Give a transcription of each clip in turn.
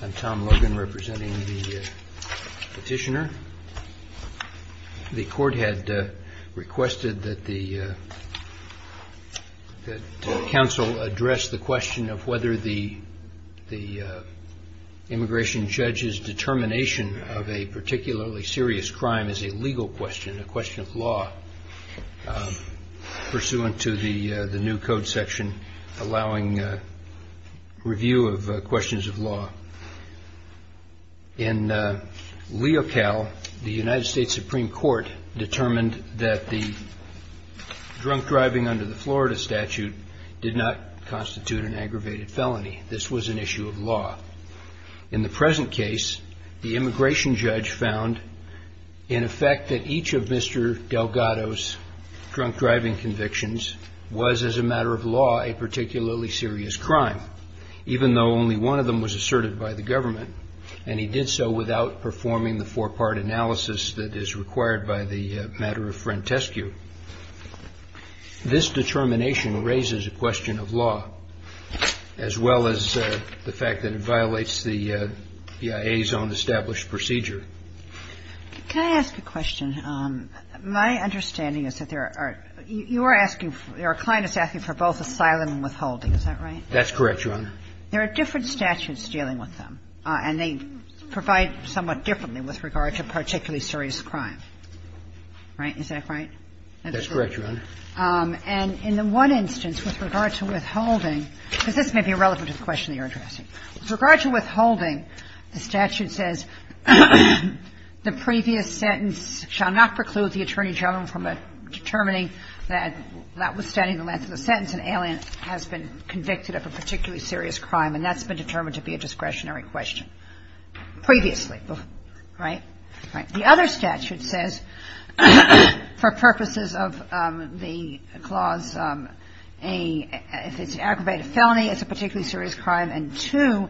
I'm Tom Logan representing the petitioner. The court had requested that the council address the question of whether the immigration judge's determination of a particularly serious crime is a legal question, a question of law, pursuant to the new code section allowing review of questions of law. In LeoCal, the United States Supreme Court determined that the drunk driving under the Florida statute did not constitute an aggravated felony. This was an issue of law. In the present case, the immigration judge found, in effect, that each of Mr. Delgado's drunk driving convictions was, as a matter of law, a particularly serious crime, even though only one of them was asserted by the government, and he did so without performing the four-part analysis that is required by the matter of frentescue. This determination raises a question of law, as well as the fact that it violates the BIA's own established procedure. Can I ask a question? My understanding is that there are – you are asking – your client is asking for both asylum and withholding. Is that right? That's correct, Your Honor. There are different statutes dealing with them, and they provide somewhat differently with regard to particularly serious crime. Right? Is that right? That's correct, Your Honor. And in the one instance, with regard to withholding – because this may be irrelevant to the question you're addressing. With regard to withholding, the statute says the previous sentence shall not preclude the Attorney General from determining that, withstanding the length of the sentence, an alien has been convicted of a particularly serious crime, and that's been determined to be a discretionary question previously. Right? Right. The other statute says, for purposes of the clause, if it's an aggravated felony, it's a particularly serious crime, and two,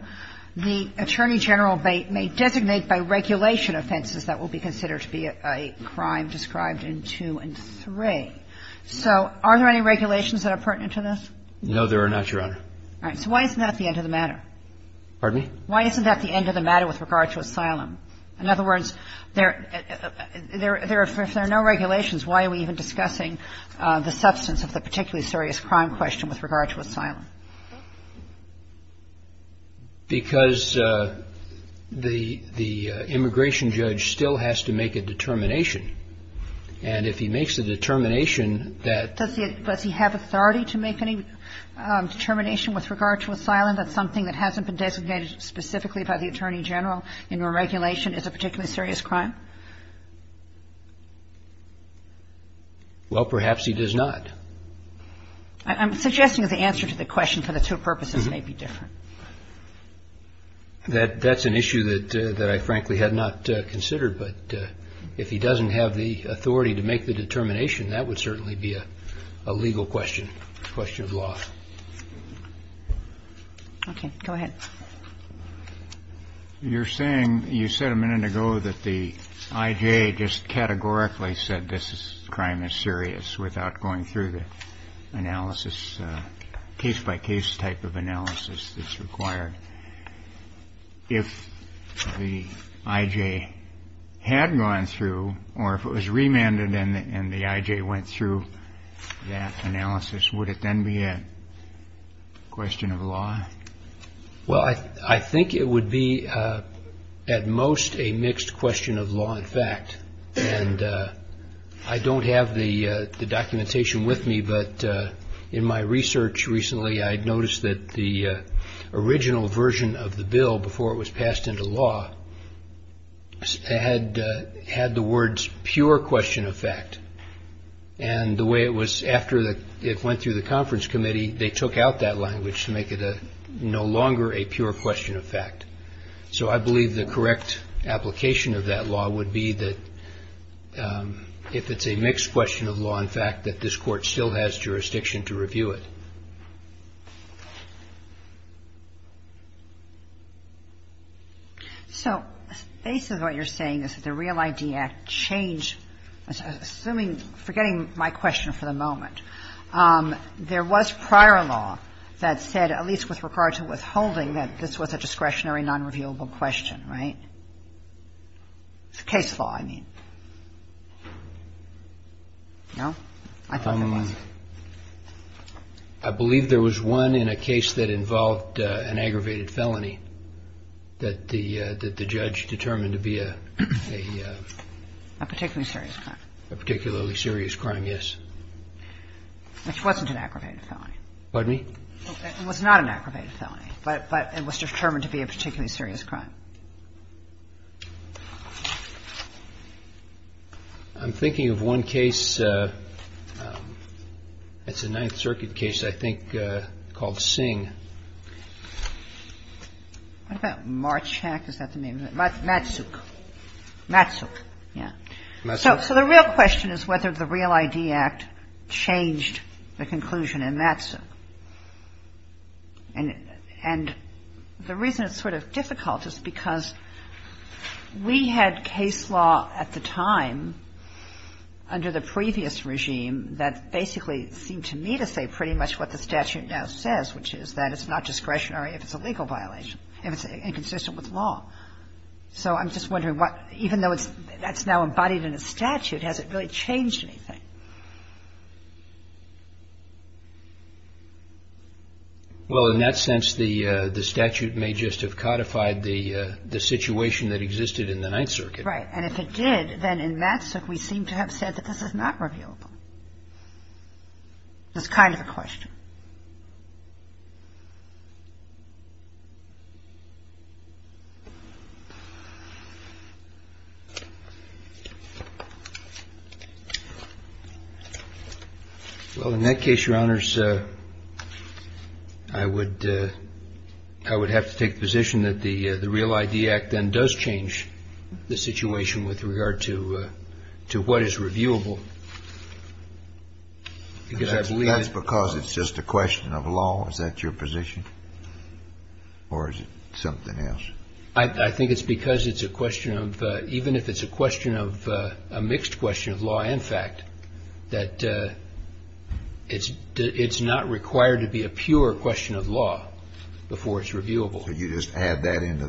the Attorney General may designate by regulation offenses that will be considered to be a crime described in two and three. So are there any regulations that are pertinent to this? No, there are not, Your Honor. All right. So why isn't that the end of the matter? Pardon me? Why isn't that the end of the matter with regard to asylum? In other words, if there are no regulations, why are we even discussing the substance of the particularly serious crime question with regard to asylum? Because the immigration judge still has to make a determination. And if he makes a determination that – Does he have authority to make any determination with regard to asylum, that's something that hasn't been designated specifically by the Attorney General in your regulation is a particularly serious crime? Well, perhaps he does not. I'm suggesting that the answer to the question for the two purposes may be different. That's an issue that I, frankly, had not considered. But if he doesn't have the authority to make the determination, that would certainly be a legal question, question of law. Okay. Go ahead. You're saying – you said a minute ago that the I.J. just categorically said this crime is serious without going through the analysis, case-by-case type of analysis that's required. If the I.J. had gone through or if it was remanded and the I.J. went through that analysis, would it then be a question of law? Well, I think it would be at most a mixed question of law and fact. And I don't have the documentation with me, but in my research recently I noticed that the original version of the bill before it was passed into law had the words pure question of fact. And the way it was after it went through the conference committee, they took out that language to make it no longer a pure question of fact. So I believe the correct application of that law would be that if it's a mixed question of law and fact, that this Court still has jurisdiction to review it. So basically what you're saying is that the Real ID Act changed – assuming – forgetting my question for the moment. There was prior law that said, at least with regard to withholding, that this was a discretionary, nonreviewable question, right? Case law, I mean. No? I thought it was. I believe there was one in a case that involved an aggravated felony that the judge determined to be a – A particularly serious crime. A particularly serious crime, yes. Which wasn't an aggravated felony. Pardon me? It was not an aggravated felony, but it was determined to be a particularly serious crime. I'm thinking of one case. It's a Ninth Circuit case, I think, called Sing. What about Marchack? Is that the name? Matsuk. Matsuk, yes. So the real question is whether the Real ID Act changed the conclusion in Matsuk. And the reason it's sort of difficult is because we had case law at the time under the previous regime that basically seemed to me to say pretty much what the statute now says, which is that it's not discretionary if it's a legal violation, if it's inconsistent with law. So I'm just wondering what – even though that's now embodied in a statute, has it really changed anything? Well, in that sense, the statute may just have codified the situation that existed in the Ninth Circuit. Right. And if it did, then in Matsuk we seem to have said that this is not reviewable. That's kind of the question. Well, in that case, Your Honors, I would have to take the position that the Real ID Act then does change the situation with regard to what is reviewable. That's because it's just a question of law? Is that your position? Or is it something else? I think it's because it's a question of – even if it's a question of – a mixed question of law and fact, that it's not required to be a pure question of law before it's reviewable. Could you just add that into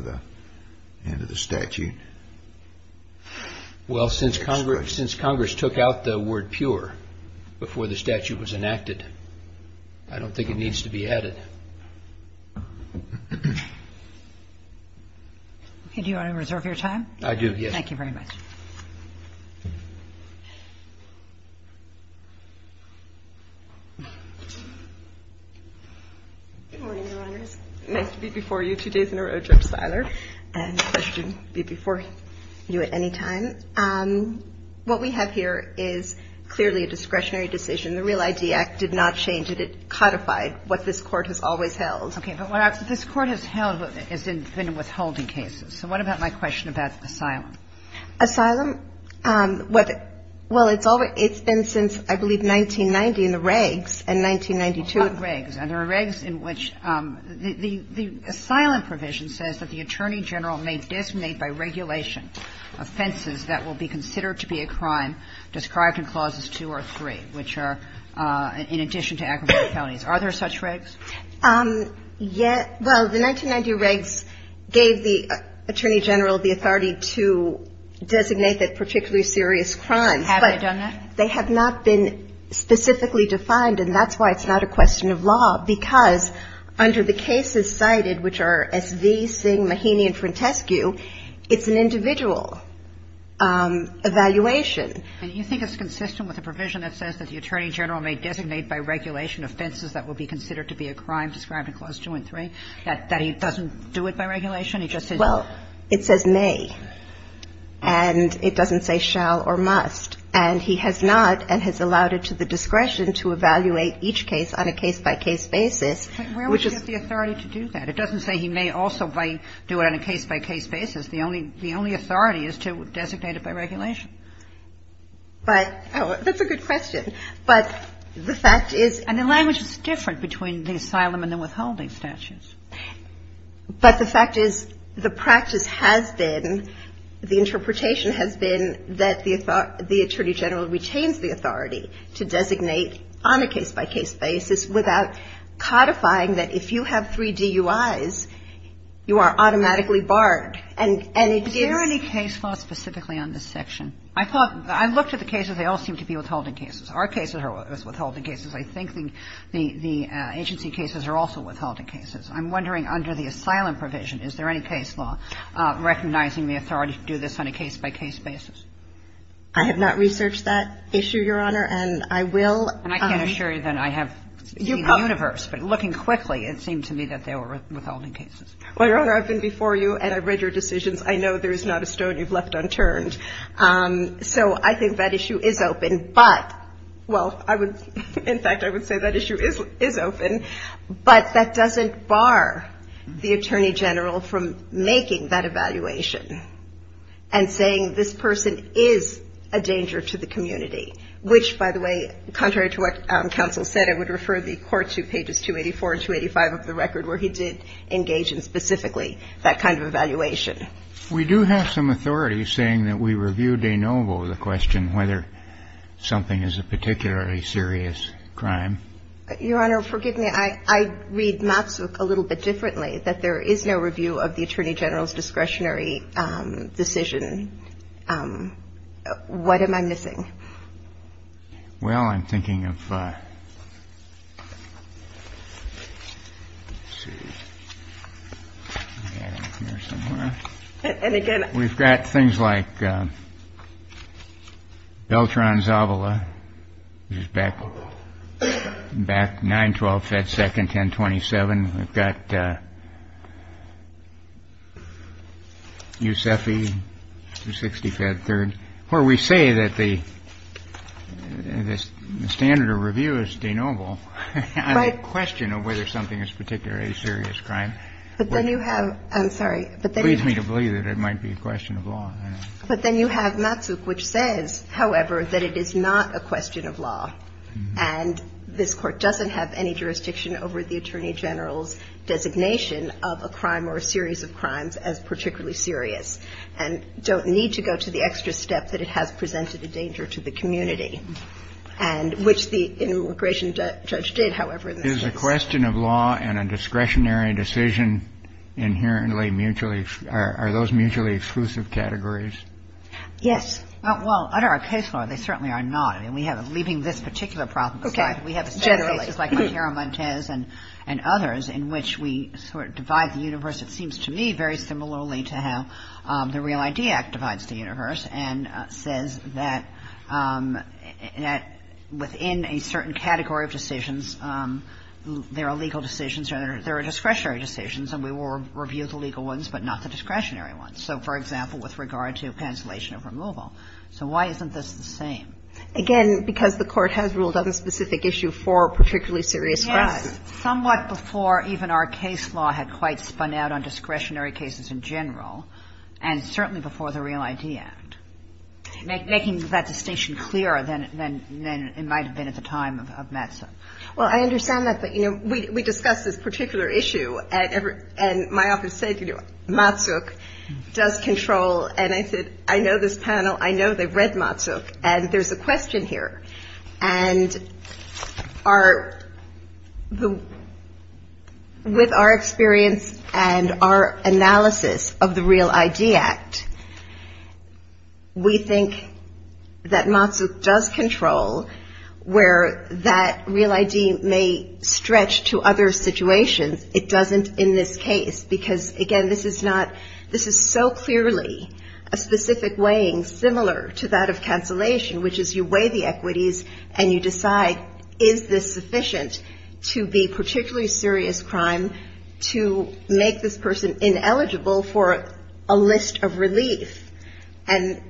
the statute? Well, since Congress took out the word pure before the statute was enacted, I don't think it needs to be added. Okay. Do you want to reserve your time? I do, yes. Thank you very much. Good morning, Your Honors. Nice to be before you two days in a row, Judge Siler. And the question would be before you at any time. What we have here is clearly a discretionary decision. The Real ID Act did not change it. It codified what this Court has always held. Okay. But what this Court has held has been withholding cases. So what about my question about asylum? Asylum? Well, it's been since, I believe, 1990 in the regs in 1992. What regs? And there are regs in which the asylum provision says that the attorney general may designate by regulation offenses that will be considered to be a crime described in Clauses 2 or 3, which are in addition to aggravated felonies. Are there such regs? Yes. Well, the 1990 regs gave the attorney general the authority to designate that particularly serious crime. Have they done that? They have not been specifically defined, and that's why it's not a question of law, because under the cases cited, which are S.V., Singh, Maheny, and Frantescu, it's an individual evaluation. And you think it's consistent with the provision that says that the attorney general may designate by regulation offenses that will be considered to be a crime described in Clause 2 and 3, that he doesn't do it by regulation? He just says no. Well, it says may. And it doesn't say shall or must. And he has not and has allowed it to the discretion to evaluate each case on a case-by-case basis, which is the authority to do that. It doesn't say he may also do it on a case-by-case basis. The only authority is to designate it by regulation. But that's a good question. But the fact is the language is different between the asylum and the withholding statutes. But the fact is the practice has been, the interpretation has been, that the attorney general retains the authority to designate on a case-by-case basis without codifying that if you have three DUIs, you are automatically barred. And if there's any case law specifically on this section? I thought, I looked at the cases. They all seem to be withholding cases. Our cases are withholding cases. I think the agency cases are also withholding cases. I'm wondering under the asylum provision, is there any case law recognizing the authority to do this on a case-by-case basis? I have not researched that issue, Your Honor. And I will. And I can assure you that I have seen the universe. But looking quickly, it seemed to me that they were withholding cases. Well, Your Honor, I've been before you and I've read your decisions. I know there is not a stone you've left unturned. So I think that issue is open. But, well, I would, in fact, I would say that issue is open. But that doesn't bar the attorney general from making that evaluation and saying this person is a danger to the community, which, by the way, contrary to what counsel said, I would refer the Court to pages 284 and 285 of the record where he did engage in specifically that kind of evaluation. We do have some authority saying that we review de novo the question whether something is a particularly serious crime. Your Honor, forgive me. I read Matsuk a little bit differently, that there is no review of the attorney general's discretionary decision. What am I missing? Well, I'm thinking of. And, again, we've got things like Beltran Zavala, which is back, back, 912, Fed 2nd, 1027. We've got Yusefi, 260, Fed 3rd, where we say that the standard of review is de novo. Right. And the question of whether something is particularly a serious crime. But then you have, I'm sorry, but then you have. It leads me to believe that it might be a question of law. But then you have Matsuk, which says, however, that it is not a question of law. And this Court doesn't have any jurisdiction over the attorney general's designation of a crime or a series of crimes as particularly serious, and don't need to go to the extra step that it has presented a danger to the community. And which the immigration judge did, however, in this case. Is the question of law and a discretionary decision inherently mutually, are those mutually exclusive categories? Yes. Well, under our case law, they certainly are not. I mean, we have, leaving this particular problem aside. Okay. Generally. We have cases like Montero-Montez and others in which we sort of divide the universe, it seems to me very similarly to how the Real ID Act divides the universe, and says that within a certain category of decisions, there are legal decisions or there are discretionary decisions. And we will review the legal ones, but not the discretionary ones. So, for example, with regard to cancellation of removal. So why isn't this the same? Again, because the Court has ruled out the specific issue for particularly serious crimes. But somewhat before even our case law had quite spun out on discretionary cases in general, and certainly before the Real ID Act. Making that distinction clearer than it might have been at the time of Matsuk. Well, I understand that. But, you know, we discussed this particular issue, and my office said, you know, Matsuk does control. And I said, I know this panel, I know they've read Matsuk, and there's a question here. And with our experience and our analysis of the Real ID Act, we think that Matsuk does control where that Real ID may stretch to other situations. It doesn't in this case. Because, again, this is so clearly a specific weighing similar to that of And so, you know, you look at all of the equities, and you decide, is this sufficient to be particularly serious crime to make this person ineligible for a list of relief? And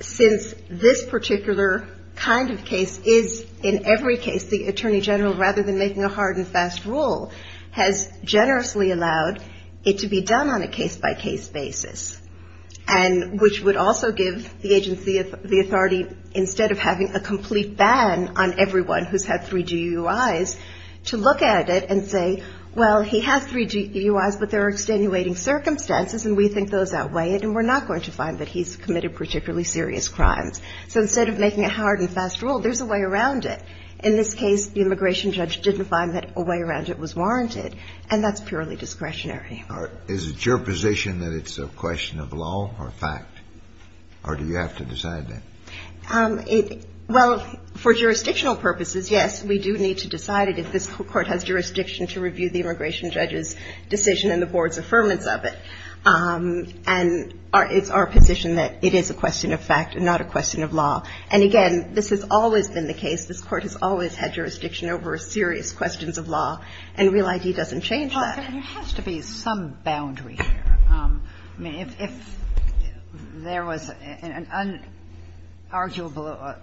since this particular kind of case is in every case, the Attorney General, rather than making a hard and fast rule, has generously allowed it to be done on a case-by-case basis. And which would also give the agency, the authority, instead of having a complaint ban on everyone who's had three GUIs, to look at it and say, well, he has three GUIs, but there are extenuating circumstances, and we think those outweigh it, and we're not going to find that he's committed particularly serious crimes. So instead of making a hard and fast rule, there's a way around it. In this case, the immigration judge didn't find that a way around it was warranted. And that's purely discretionary. Is it your position that it's a question of law or fact? Or do you have to decide that? Well, for jurisdictional purposes, yes, we do need to decide it if this Court has jurisdiction to review the immigration judge's decision and the board's affirmance of it. And it's our position that it is a question of fact and not a question of law. And, again, this has always been the case. This Court has always had jurisdiction over serious questions of law. And Real ID doesn't change that. There has to be some boundary here. I mean, if there was an unarguable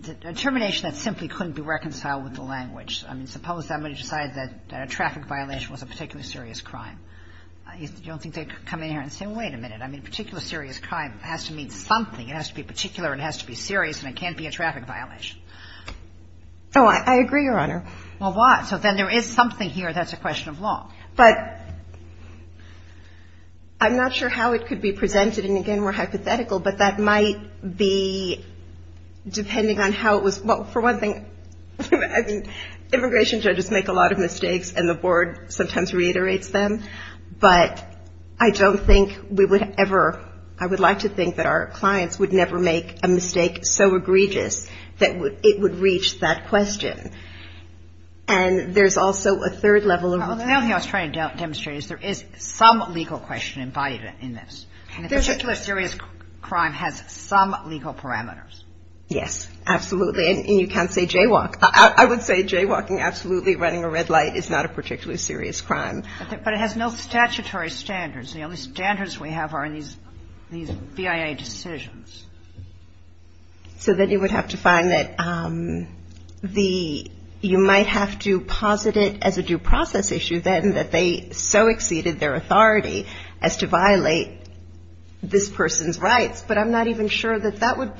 determination that simply couldn't be reconciled with the language. I mean, suppose somebody decided that a traffic violation was a particularly serious crime. You don't think they could come in here and say, well, wait a minute. I mean, a particularly serious crime has to mean something. It has to be particular, it has to be serious, and it can't be a traffic violation. Oh, I agree, Your Honor. Well, why? So then there is something here that's a question of law. But I'm not sure how it could be presented. And, again, we're hypothetical, but that might be depending on how it was. Well, for one thing, I mean, immigration judges make a lot of mistakes and the board sometimes reiterates them. But I don't think we would ever – I would like to think that our clients would never make a mistake so egregious that it would reach that question. And there's also a third level of – Well, the only thing I was trying to demonstrate is there is some legal question embodied in this. And a particularly serious crime has some legal parameters. Yes, absolutely. And you can't say jaywalk. I would say jaywalking, absolutely, running a red light is not a particularly serious crime. But it has no statutory standards. The only standards we have are in these BIA decisions. So then you would have to find that the – you might have to posit it as a due process issue, then, that they so exceeded their authority as to violate this person's rights. But I'm not even sure that that would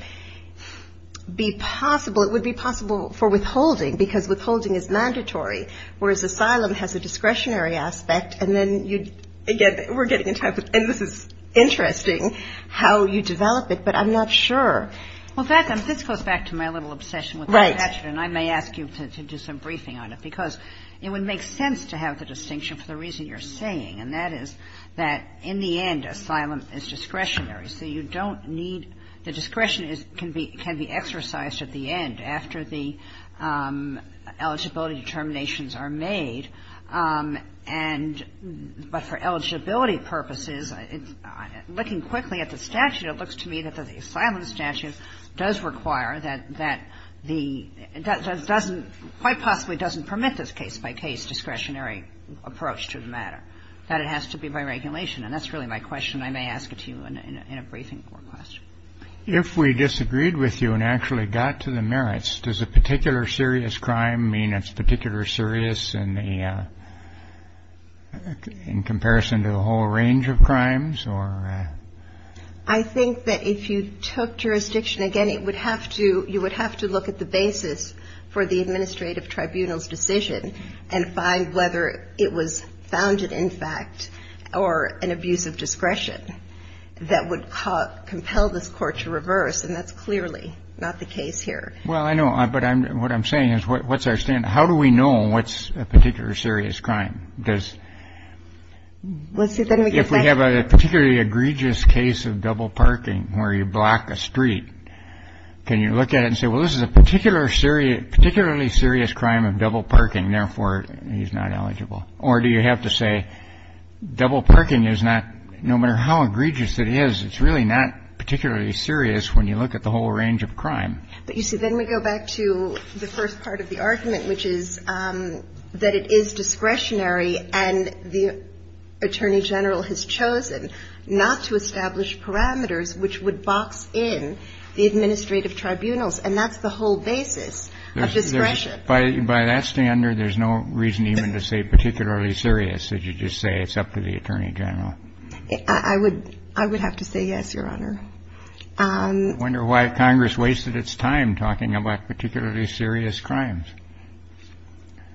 be possible. It would be possible for withholding because withholding is mandatory, whereas asylum has a discretionary aspect. And then, again, we're getting into – and this is interesting how you develop it, but I'm not sure. Well, Beth, this goes back to my little obsession with the statute. Right. And I may ask you to do some briefing on it. Because it would make sense to have the distinction for the reason you're saying, and that is that, in the end, asylum is discretionary. So you don't need – the discretion can be exercised at the end, after the eligibility determinations are made. And – but for eligibility purposes, looking quickly at the statute, it looks to me that the asylum statute does require that the – doesn't – quite possibly doesn't permit this case-by-case discretionary approach to the matter, that it has to be by regulation. And that's really my question. I may ask it to you in a briefing or question. If we disagreed with you and actually got to the merits, does a particular serious crime mean it's particularly serious in the – in comparison to a whole range of crimes or – I think that if you took jurisdiction, again, it would have to – you would have to look at the basis for the administrative tribunal's decision and find whether it was founded, in fact, or an abuse of discretion that would compel this Court to reverse. And that's clearly not the case here. Well, I know. But I'm – what I'm saying is, what's our standard? How do we know what's a particular serious crime? Because if we have a particularly egregious case of double parking where you block a street, can you look at it and say, well, this is a particularly serious crime of double parking, therefore he's not eligible? Or do you have to say double parking is not – no matter how egregious it is, it's really not particularly serious when you look at the whole range of crime. But, you see, then we go back to the first part of the argument, which is that it is discretionary and the Attorney General has chosen not to establish parameters which would box in the administrative tribunals. And that's the whole basis of discretion. By that standard, there's no reason even to say particularly serious. You just say it's up to the Attorney General. I would – I would have to say yes, Your Honor. I wonder why Congress wasted its time talking about particularly serious crimes.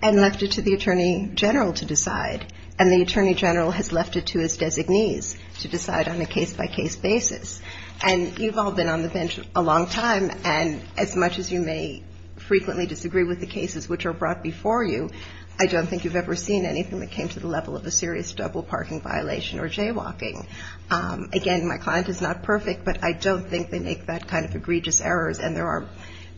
And left it to the Attorney General to decide. And the Attorney General has left it to his designees to decide on a case-by-case basis. And you've all been on the bench a long time, and as much as you may frequently disagree with the cases which are brought before you, I don't think you've ever seen anything that came to the level of a serious double parking violation or jaywalking. Again, my client is not perfect, but I don't think they make that kind of egregious errors, and there are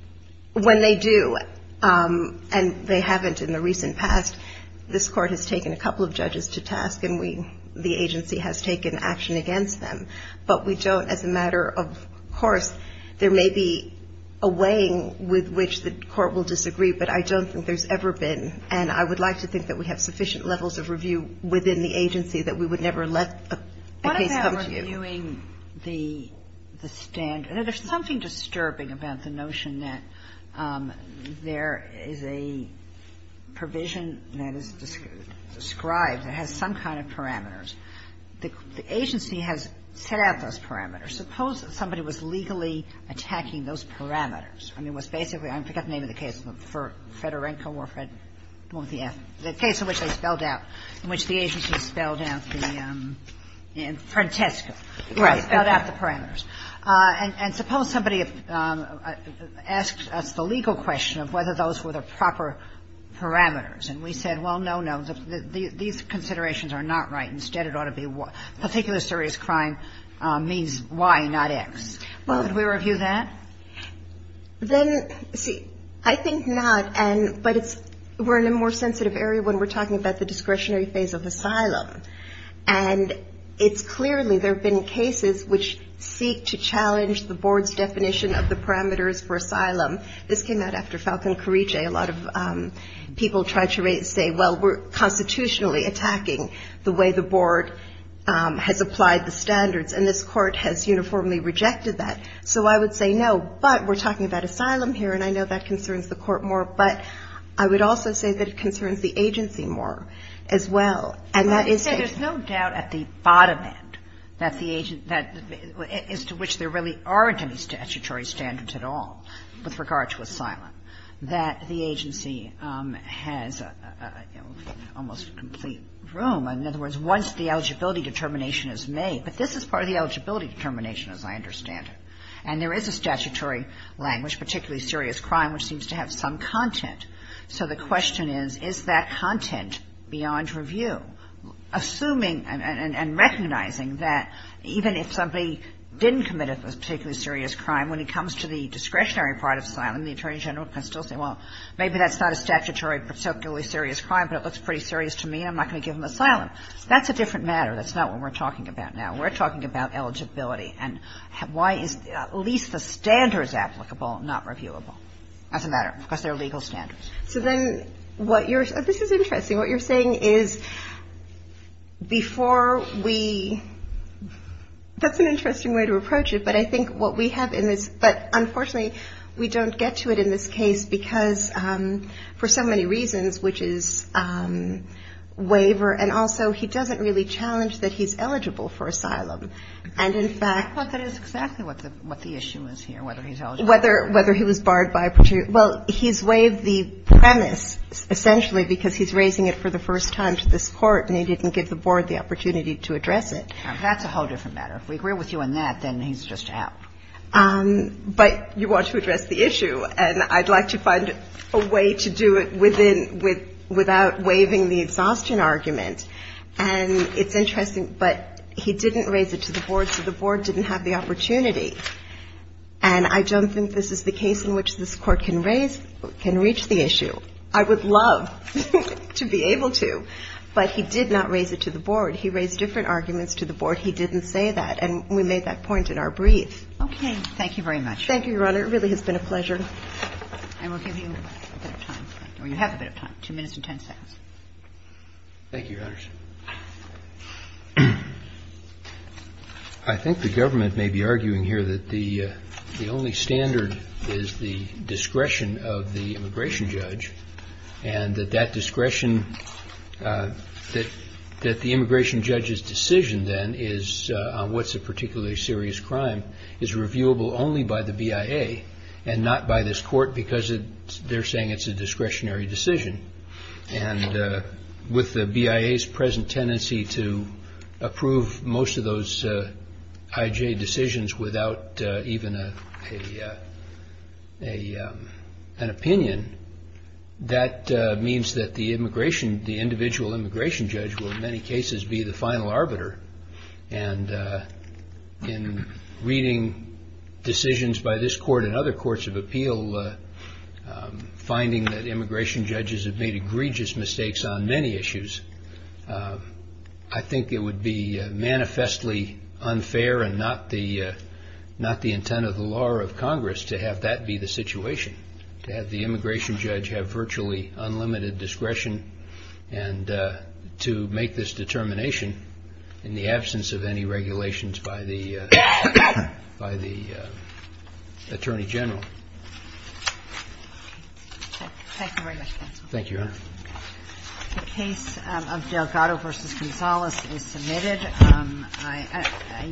– when they do, and they haven't in the recent past, this Court has taken a couple of judges to task and we – the agency has taken action against them. But we don't, as a matter of course, there may be a weighing with which the Court will disagree, but I don't think there's ever been. And I would like to think that we have sufficient levels of review within the agency that we would never let a case come to you. Kagan. Kagan. I'm not sure if I'm following the standard. There's something disturbing about the notion that there is a provision that is described that has some kind of parameters. The agency has set out those parameters. Suppose somebody was legally attacking those parameters. I mean, it was basically – I forget the name of the case. It was Fedorenko or Fred – the case in which they spelled out, in which the agency spelled out the – in Frantesco. Right. Spelled out the parameters. And suppose somebody asks us the legal question of whether those were the proper parameters, and we said, well, no, no, these considerations are not right. Instead, it ought to be particular serious crime means Y, not X. Well, could we review that? Then – see, I think not. But it's – we're in a more sensitive area when we're talking about the discretionary phase of asylum. And it's clearly – there have been cases which seek to challenge the board's definition of the parameters for asylum. This came out after Falcon Carice. A lot of people tried to say, well, we're constitutionally attacking the way the board has applied the standards. And this court has uniformly rejected that. So I would say, no, but we're talking about asylum here, and I know that concerns the court more. But I would also say that it concerns the agency more as well. And that is – But you say there's no doubt at the bottom end that the – as to which there really aren't any statutory standards at all with regard to asylum, that the agency has almost complete room. In other words, once the eligibility determination is made – but this is part of the statutory language, particularly serious crime, which seems to have some content. So the question is, is that content beyond review? Assuming and recognizing that even if somebody didn't commit a particularly serious crime, when it comes to the discretionary part of asylum, the Attorney General can still say, well, maybe that's not a statutory particularly serious crime, but it looks pretty serious to me and I'm not going to give them asylum. That's a different matter. That's not what we're talking about now. We're talking about eligibility. And why is at least the standards applicable, not reviewable? That's a matter. Because they're legal standards. So then what you're – this is interesting. What you're saying is before we – that's an interesting way to approach it, but I think what we have in this – but unfortunately, we don't get to it in this case because for so many reasons, which is waiver and also he doesn't really challenge that he's eligible for asylum. And in fact – But that is exactly what the issue is here, whether he's eligible. Whether he was barred by a particular – well, he's waived the premise essentially because he's raising it for the first time to this Court and he didn't give the Board the opportunity to address it. That's a whole different matter. If we agree with you on that, then he's just out. But you want to address the issue, and I'd like to find a way to do it within – without waiving the exhaustion argument. And it's interesting, but he didn't raise it to the Board, so the Board didn't have the opportunity. And I don't think this is the case in which this Court can raise – can reach the issue. I would love to be able to, but he did not raise it to the Board. He raised different arguments to the Board. He didn't say that. And we made that point in our brief. Okay. Thank you very much. Thank you, Your Honor. It really has been a pleasure. And we'll give you a bit of time. Or you have a bit of time, 2 minutes and 10 seconds. Thank you, Your Honor. I think the government may be arguing here that the only standard is the discretion of the immigration judge, and that that discretion – that the immigration judge's decision, then, on what's a particularly serious crime is reviewable only by the BIA and not by this Court because they're saying it's a discretionary decision. And with the BIA's present tendency to approve most of those IJ decisions without even an opinion, that means that the immigration – the individual immigration judge will, in many cases, be the final arbiter. And in reading decisions by this Court and other courts of appeal, finding that they've made egregious mistakes on many issues, I think it would be manifestly unfair and not the intent of the law or of Congress to have that be the situation, to have the immigration judge have virtually unlimited discretion and to make this determination in the absence of any regulations by the Attorney General. Thank you very much, counsel. Thank you, Your Honor.